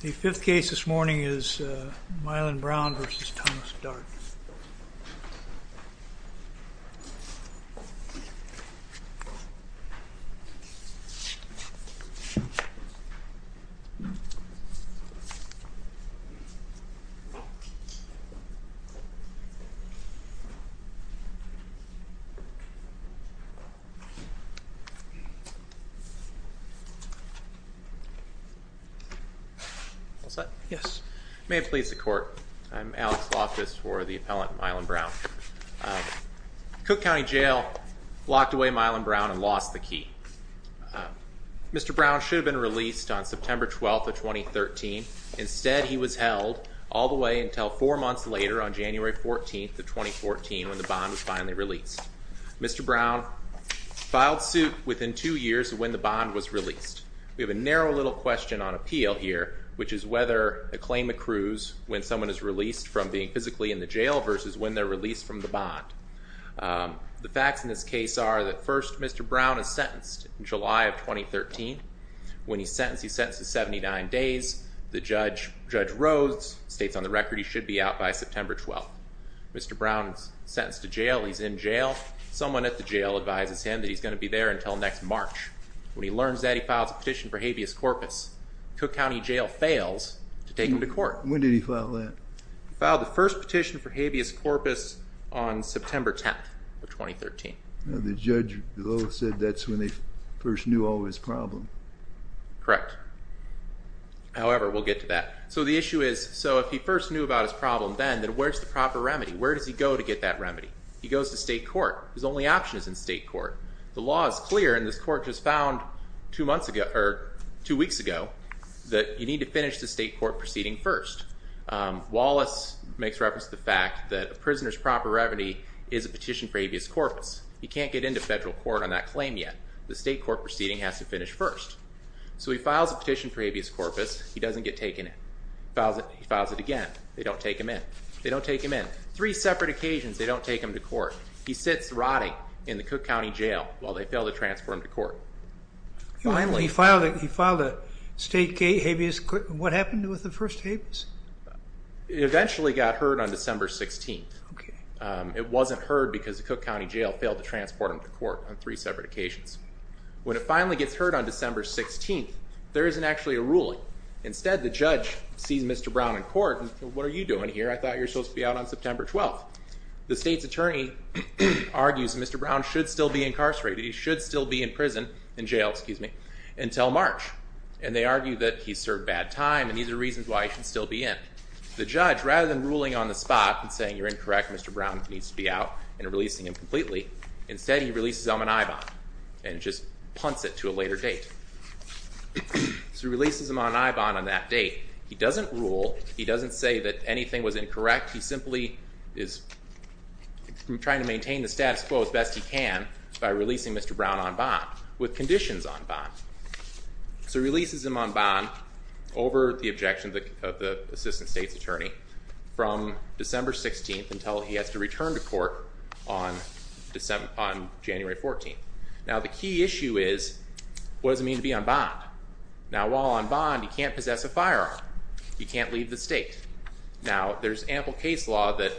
The fifth case this morning is Mylon Brown v. Thomas Dart. May it please the Court, I'm Alex Loftus for the appellant Mylon Brown. Cook County Jail locked away Mylon Brown and lost the key. Mr. Brown should have been released on September 12th of 2013. Instead, he was held all the way until four months later on January 14th of 2014 when the bond was finally released. Mr. Brown filed suit within two years of when the bond was released. We have a narrow little question on appeal here, which is whether a claim accrues when someone is released from being physically in the jail versus when they're released from the bond. The facts in this case are that first, Mr. Brown is sentenced in July of 2013. When he's sentenced, he's sentenced to 79 days. The judge, Judge Rhodes, states on the record he should be out by September 12th. Mr. Brown is sentenced to jail. He's in jail. Someone at the jail advises him that he's going to be there until next March. When he learns that, he files a petition for habeas corpus. Cook County Jail fails to take him to court. When did he file that? He filed the first petition for habeas corpus on September 10th of 2013. The judge said that's when they first knew all his problem. Correct. However, we'll get to that. So the issue is, so if he first knew about his problem then, then where's the proper remedy? Where does he go to get that remedy? He goes to state court. His only option is in state court. The law is clear, and this court just found two weeks ago that you need to finish the state court proceeding first. Wallace makes reference to the fact that a prisoner's proper remedy is a petition for habeas corpus. He can't get into federal court on that claim yet. The state court proceeding has to finish first. So he files a petition for habeas corpus. He doesn't get taken in. He files it again. They don't take him in. They don't take him in. Three separate occasions they don't take him to court. He sits rotting in the Cook County Jail while they fail to transport him to court. He filed a state habeas corpus. What happened with the first habeas? It eventually got heard on December 16th. It wasn't heard because the Cook County Jail failed to transport him to court on three separate occasions. When it finally gets heard on December 16th, there isn't actually a ruling. Instead, the judge sees Mr. Brown in court and says, what are you doing here? I thought you were supposed to be out on September 12th. The state's attorney argues that Mr. Brown should still be incarcerated. He should still be in prison, in jail, excuse me, until March. And they argue that he served bad time, and these are reasons why he should still be in. The judge, rather than ruling on the spot and saying you're incorrect, Mr. Brown needs to be out and releasing him completely, instead he releases him on I-bond and just punts it to a later date. So he releases him on I-bond on that date. He doesn't rule. He doesn't say that anything was incorrect. He simply is trying to maintain the status quo as best he can by releasing Mr. Brown on bond, with conditions on bond. So he releases him on bond over the objection of the assistant state's attorney from December 16th until he has to return to court on January 14th. Now the key issue is, what does it mean to be on bond? Now while on bond, he can't possess a firearm. He can't leave the state. Now there's ample case law that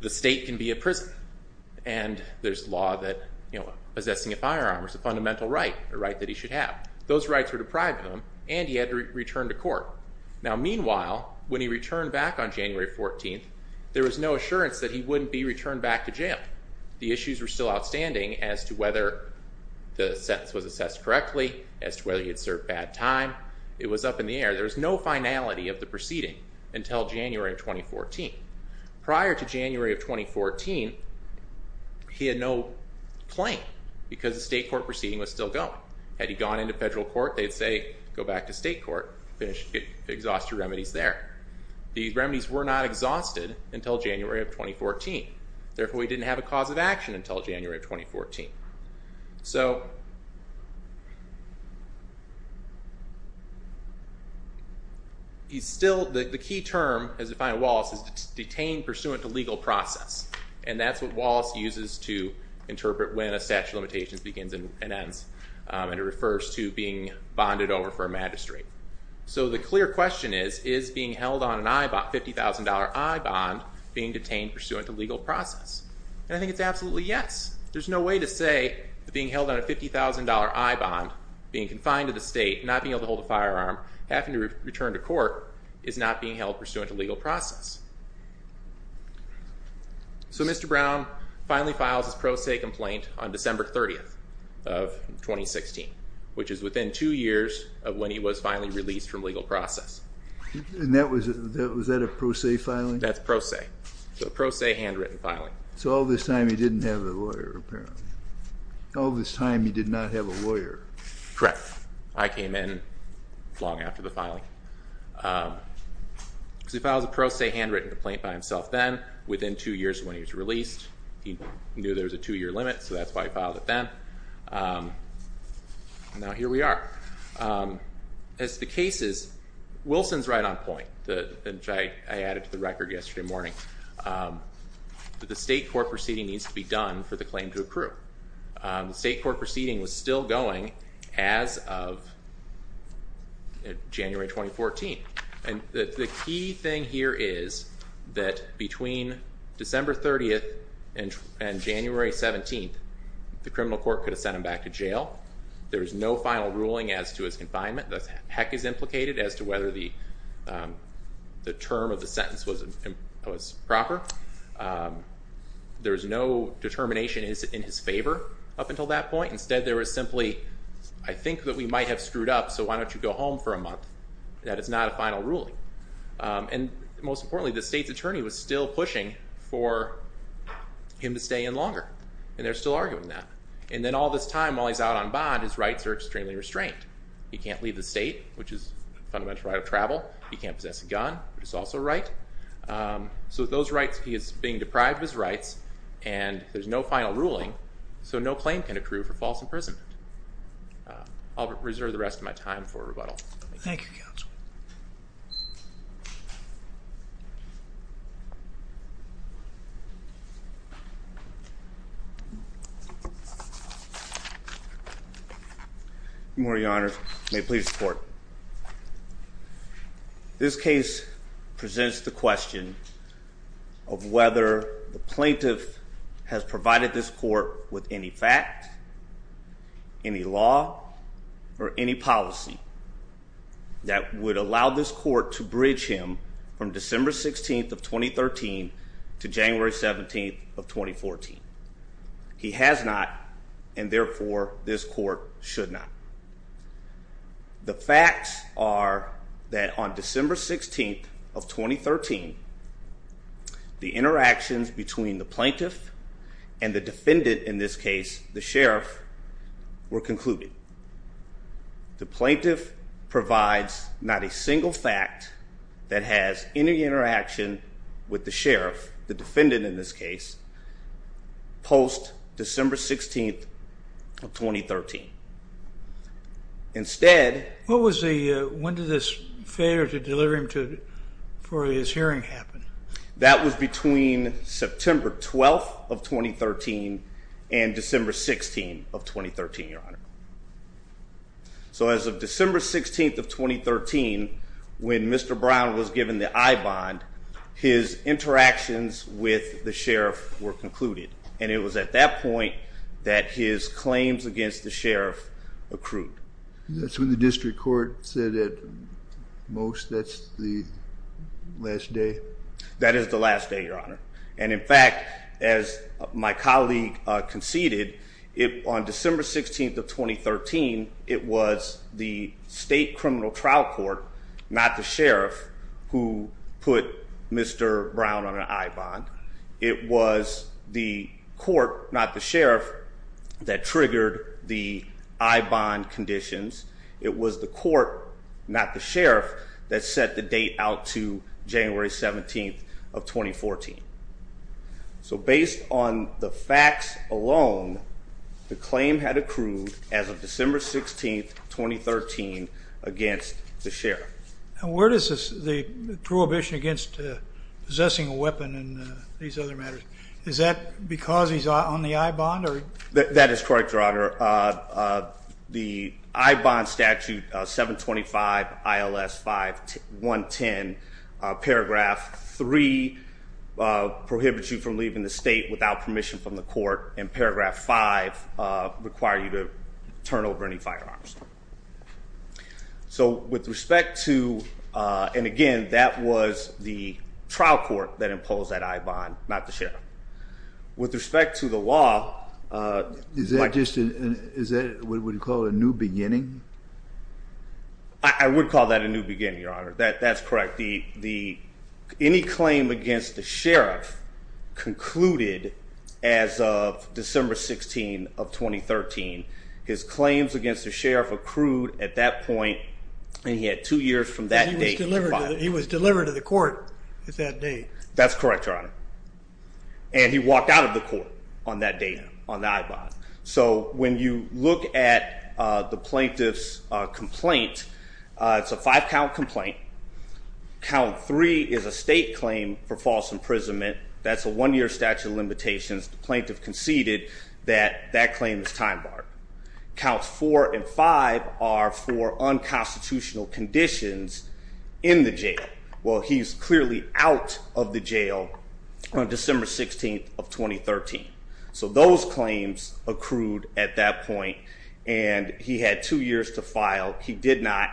the state can be a prison, and there's law that possessing a firearm is a fundamental right, a right that he should have. Those rights were deprived of him, and he had to return to court. Now meanwhile, when he returned back on January 14th, there was no assurance that he wouldn't be returned back to jail. The issues were still outstanding as to whether the sentence was assessed correctly, as to whether he had served bad time. It was up in the air. There was no finality of the proceeding until January of 2014. Prior to January of 2014, he had no claim because the state court proceeding was still going. Had he gone into federal court, they'd say, go back to state court, finish, exhaust your remedies there. These remedies were not exhausted until January of 2014. Therefore, he didn't have a cause of action until January of 2014. So he's still, the key term, as defined by Wallace, is detained pursuant to legal process, and that's what Wallace uses to interpret when a statute of limitations begins and ends, and it refers to being bonded over for a magistrate. So the clear question is, is being held on a $50,000 bond being detained pursuant to legal process? And I think it's absolutely yes. There's no way to say that being held on a $50,000 I-bond, being confined to the state, not being able to hold a firearm, having to return to court is not being held pursuant to legal process. So Mr. Brown finally files his pro se complaint on December 30th of 2016, which is within two years of when he was finally released from legal process. And that was, was that a pro se filing? That's pro se, so a pro se handwritten filing. So all this time he didn't have a lawyer, apparently. All this time he did not have a lawyer. Correct. I came in long after the filing. So he files a pro se handwritten complaint by himself then, within two years of when he was released. He knew there was a two-year limit, so that's why he filed it then. And now here we are. As to the cases, Wilson's right on point, which I added to the record yesterday morning. The state court proceeding needs to be done for the claim to accrue. The state court proceeding was still going as of January 2014. And the key thing here is that between December 30th and January 17th, the criminal court could have sent him back to jail. The heck is implicated as to whether the term of the sentence was proper. There was no determination in his favor up until that point. Instead there was simply, I think that we might have screwed up, so why don't you go home for a month. That is not a final ruling. And most importantly, the state's attorney was still pushing for him to stay in longer, and they're still arguing that. And then all this time, while he's out on bond, his rights are extremely restrained. He can't leave the state, which is a fundamental right of travel. He can't possess a gun, which is also a right. So with those rights, he is being deprived of his rights, and there's no final ruling, so no claim can accrue for false imprisonment. I'll reserve the rest of my time for rebuttal. Thank you, counsel. Thank you. Your Honor, may it please the court. This case presents the question of whether the plaintiff has provided this court with any fact, any law, or any policy that would allow this court to bridge him from December 16th of 2013 to January 17th of 2014. He has not, and therefore this court should not. The facts are that on December 16th of 2013, the interactions between the plaintiff and the defendant in this case, the sheriff, were concluded. The plaintiff provides not a single fact that has any interaction with the sheriff, the defendant in this case, post-December 16th of 2013. Instead... When did this failure to deliver him for his hearing happen? That was between September 12th of 2013 and December 16th of 2013, Your Honor. So as of December 16th of 2013, when Mr. Brown was given the I-bond, his interactions with the sheriff were concluded, and it was at that point that his claims against the sheriff accrued. That's what the district court said at most? That's the last day? That is the last day, Your Honor. And in fact, as my colleague conceded, on December 16th of 2013, it was the state criminal trial court, not the sheriff, it was the court, not the sheriff, that triggered the I-bond conditions. It was the court, not the sheriff, that set the date out to January 17th of 2014. So based on the facts alone, the claim had accrued as of December 16th, 2013, against the sheriff. And where is the prohibition against possessing a weapon and these other matters? Is that because he's on the I-bond? That is correct, Your Honor. The I-bond statute, 725 ILS 5-110, paragraph 3, prohibits you from leaving the state without permission from the court, and paragraph 5 requires you to turn over any firearms. So with respect to... And again, that was the trial court that imposed that I-bond, not the sheriff. With respect to the law... Is that what you call a new beginning? I would call that a new beginning, Your Honor. That's correct. Any claim against the sheriff concluded as of December 16th of 2013. His claims against the sheriff accrued at that point, and he had two years from that date... He was delivered to the court at that date. That's correct, Your Honor. And he walked out of the court on that date, on the I-bond. So when you look at the plaintiff's complaint, it's a five-count complaint. Count three is a state claim for false imprisonment. That's a one-year statute of limitations. The plaintiff conceded that that claim is time-barred. Counts four and five are for unconstitutional conditions in the jail. Well, he's clearly out of the jail on December 16th of 2013. So those claims accrued at that point, and he had two years to file. He did not,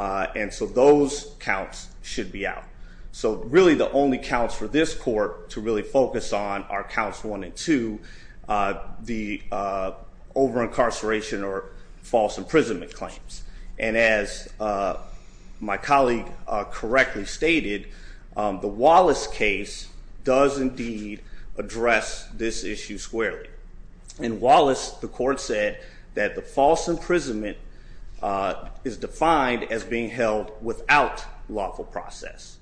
and so those counts should be out. So really, the only counts for this court to really focus on are counts one and two, the over-incarceration or false imprisonment claims. And as my colleague correctly stated, the Wallace case does indeed address this issue squarely. In Wallace, the court said that the false imprisonment is defined as being held without lawful process,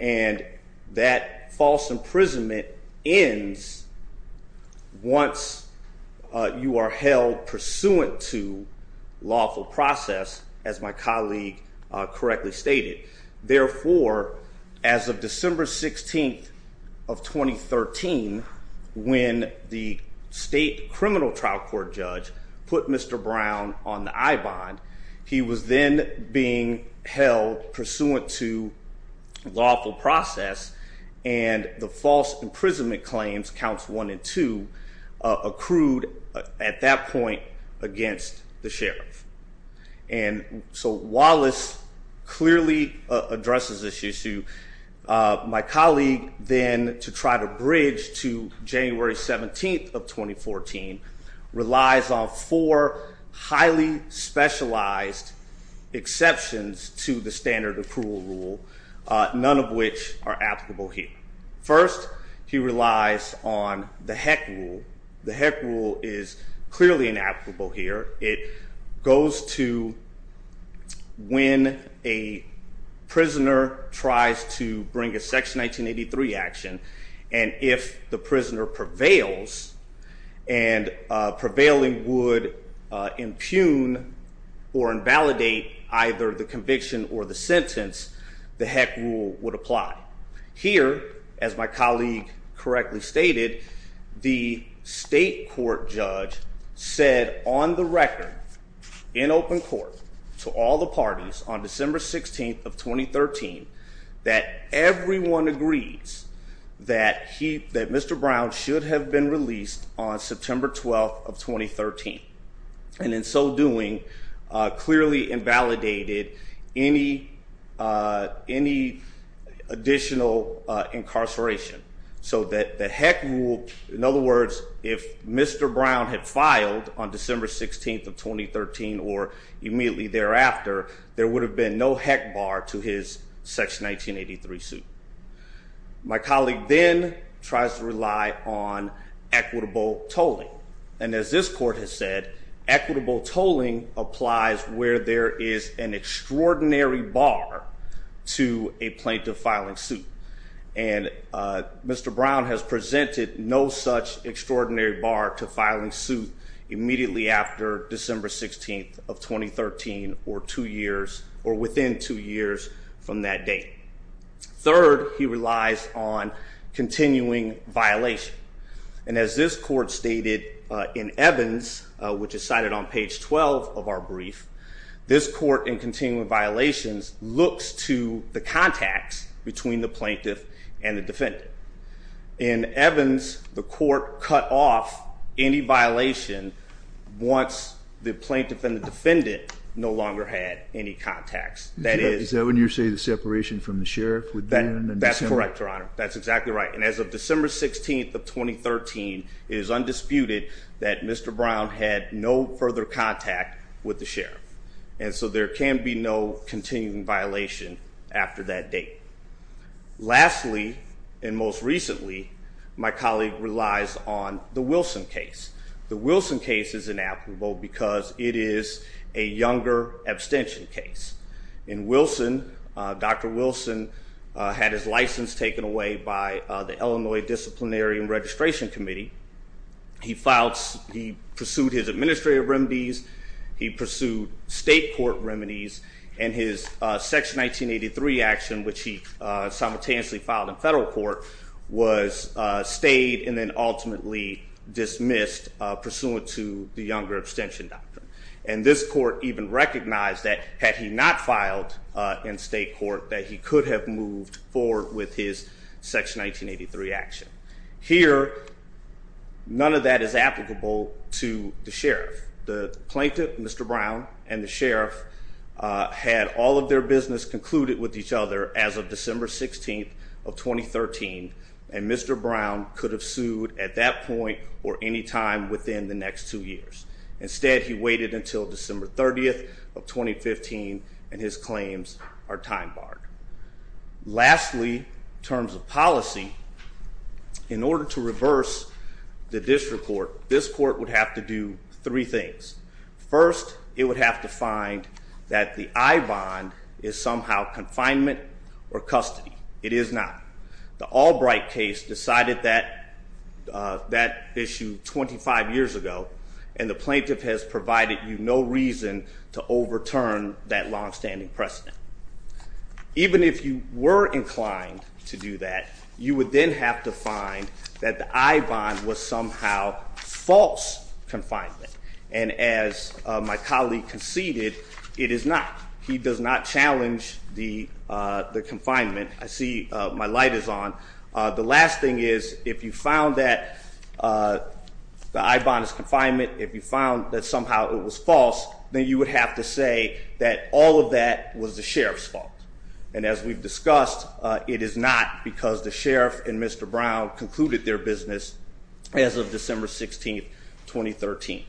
and that false imprisonment ends once you are held pursuant to lawful process, as my colleague correctly stated. Therefore, as of December 16th of 2013, when the state criminal trial court judge put Mr. Brown on the I-bond, he was then being held pursuant to lawful process, and the false imprisonment claims, counts one and two, accrued at that point against the sheriff. And so Wallace clearly addresses this issue. My colleague then, to try to bridge to January 17th of 2014, relies on four highly specialized exceptions to the standard approval rule, none of which are applicable here. First, he relies on the Heck rule. The Heck rule is clearly inapplicable here. It goes to when a prisoner tries to bring a Section 1983 action, and if the prisoner prevails, and prevailing would impugn or invalidate either the conviction or the sentence, the Heck rule would apply. Here, as my colleague correctly stated, the state court judge said on the record in open court to all the parties on December 16th of 2013 that everyone agrees that Mr. Brown should have been released on September 12th of 2013, and in so doing clearly invalidated any additional incarceration. So that the Heck rule, in other words, if Mr. Brown had filed on December 16th of 2013 or immediately thereafter, there would have been no Heck bar to his Section 1983 suit. My colleague then tries to rely on equitable tolling. And as this court has said, equitable tolling applies where there is an extraordinary bar to a plaintiff filing suit. And Mr. Brown has presented no such extraordinary bar to filing suit immediately after December 16th of 2013 or within two years from that date. Third, he relies on continuing violation. And as this court stated in Evans, which is cited on page 12 of our brief, this court in continuing violations looks to the contacts between the plaintiff and the defendant. In Evans, the court cut off any violation once the plaintiff and the defendant no longer had any contacts. Is that when you say the separation from the sheriff? That's correct, Your Honor. That's exactly right. And as of December 16th of 2013, it is undisputed that Mr. Brown had no further contact with the sheriff. And so there can be no continuing violation after that date. Lastly, and most recently, my colleague relies on the Wilson case. The Wilson case is inapplicable because it is a younger abstention case. In Wilson, Dr. Wilson had his license taken away by the Illinois Disciplinary and Registration Committee. He pursued his administrative remedies. He pursued state court remedies. And his Section 1983 action, which he simultaneously filed in federal court, was stayed and then ultimately dismissed pursuant to the younger abstention doctrine. And this court even recognized that had he not filed in state court that he could have moved forward with his Section 1983 action. Here, none of that is applicable to the sheriff. The plaintiff, Mr. Brown, and the sheriff had all of their business concluded with each other as of December 16th of 2013, and Mr. Brown could have sued at that point or any time within the next two years. Instead, he waited until December 30th of 2015, and his claims are time barred. Lastly, in terms of policy, in order to reverse the district court, this court would have to do three things. First, it would have to find that the I bond is somehow confinement or custody. It is not. The Albright case decided that issue 25 years ago, and the plaintiff has provided you no reason to overturn that longstanding precedent. Even if you were inclined to do that, you would then have to find that the I bond was somehow false confinement. And as my colleague conceded, it is not. He does not challenge the confinement. I see my light is on. The last thing is, if you found that the I bond is confinement, if you found that somehow it was false, then you would have to say that all of that was the sheriff's fault. And as we've discussed, it is not because the sheriff and Mr. Brown concluded their business as of December 16, 2013.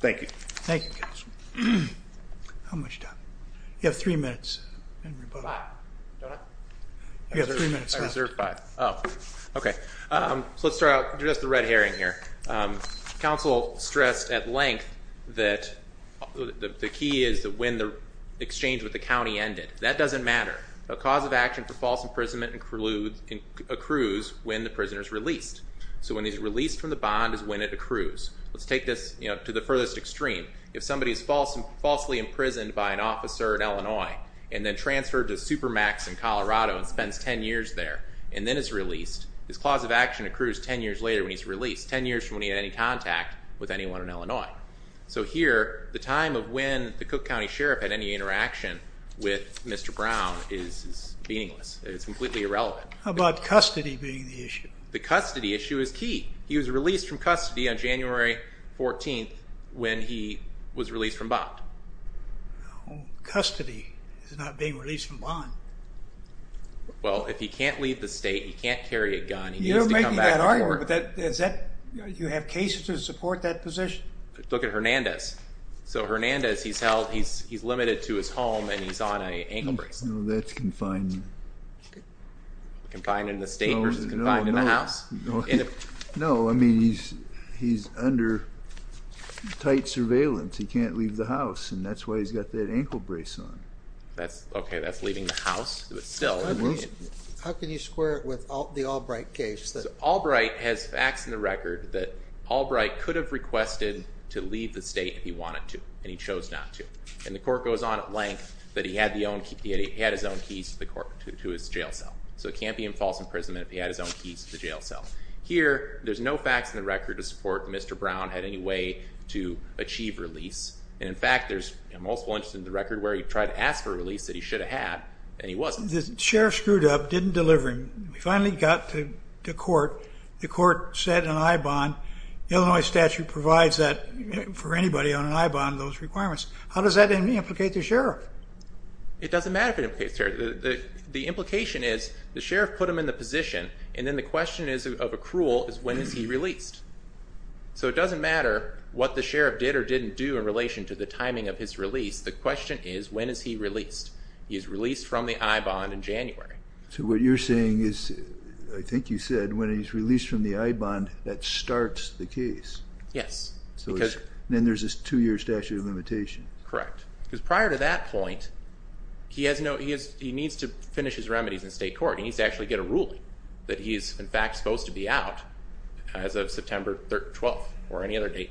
Thank you. Thank you, counsel. How much time? You have three minutes. Five. Don't I? You have three minutes. I reserved five. Oh, OK. So let's start out. I'll do just the red herring here. Counsel stressed at length that the key is that when the exchange with the county ended. That doesn't matter. A cause of action for false imprisonment accrues when the prisoner is released. So when he's released from the bond is when it accrues. Let's take this to the furthest extreme. If somebody is falsely imprisoned by an officer in Illinois and then transferred to Supermax in Colorado and spends 10 years there and then is released, his clause of action accrues 10 years later when he's released, 10 years from when he had any contact with anyone in Illinois. So here, the time of when the Cook County Sheriff had any interaction with Mr. Brown is meaningless. It's completely irrelevant. How about custody being the issue? The custody issue is key. He was released from custody on January 14th when he was released from bond. Custody is not being released from bond. Well, if he can't leave the state, he can't carry a gun. You don't make that argument. Do you have cases to support that position? Look at Hernandez. So Hernandez, he's held, he's limited to his home, and he's on an ankle brace. That's confined. Confined in the state versus confined in the house? No, I mean, he's under tight surveillance. He can't leave the house, and that's why he's got that ankle brace on. Okay, that's leaving the house, but still. How can you square it with the Albright case? So Albright has facts in the record that Albright could have requested to leave the state if he wanted to, and he chose not to, and the court goes on at length that he had his own keys to his jail cell. So it can't be in false imprisonment if he had his own keys to the jail cell. Here, there's no facts in the record to support that Mr. Brown had any way to achieve release, and, in fact, there's multiple instances in the record where he tried to ask for a release that he should have had, and he wasn't. The sheriff screwed up, didn't deliver him. We finally got to court. The court said an I-bond, Illinois statute provides that for anybody on an I-bond, those requirements. How does that implicate the sheriff? It doesn't matter if it implicates the sheriff. The implication is the sheriff put him in the position, and then the question of accrual is when is he released. So it doesn't matter what the sheriff did or didn't do in relation to the timing of his release. The question is when is he released. He is released from the I-bond in January. So what you're saying is, I think you said, when he's released from the I-bond, that starts the case. Yes. Then there's this 2-year statute of limitation. Correct, because prior to that point, he needs to finish his remedies in state court. He needs to actually get a ruling that he is, in fact, supposed to be out as of September 12th or any other date.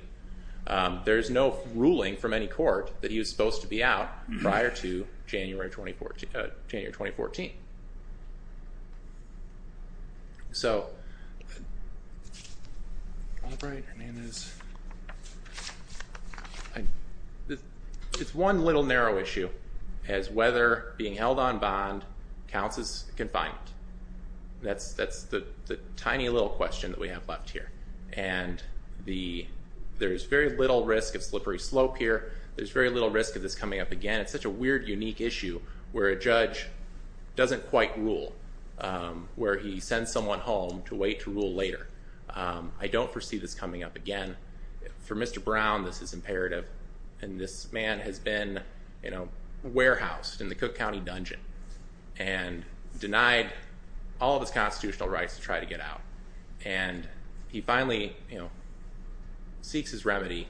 There's no ruling from any court that he was supposed to be out prior to January 2014. It's one little narrow issue as whether being held on bond counts as confinement. That's the tiny little question that we have left here. And there is very little risk of slippery slope here. There's very little risk of this coming up again. It's such a weird, unique issue where a judge doesn't quite rule, where he sends someone home to wait to rule later. I don't foresee this coming up again. For Mr. Brown, this is imperative. And this man has been warehoused in the Cook County dungeon and denied all of his constitutional rights to try to get out. And he finally seeks his remedy.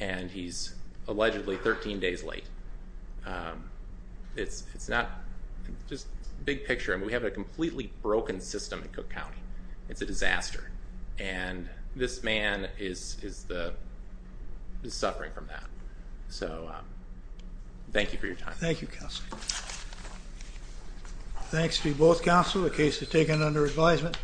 And he's allegedly 13 days late. It's not just big picture. And we have a completely broken system in Cook County. It's a disaster. And this man is suffering from that. So thank you for your time. Thank you, counsel. Thanks to both counsel. The case is taken under advisement.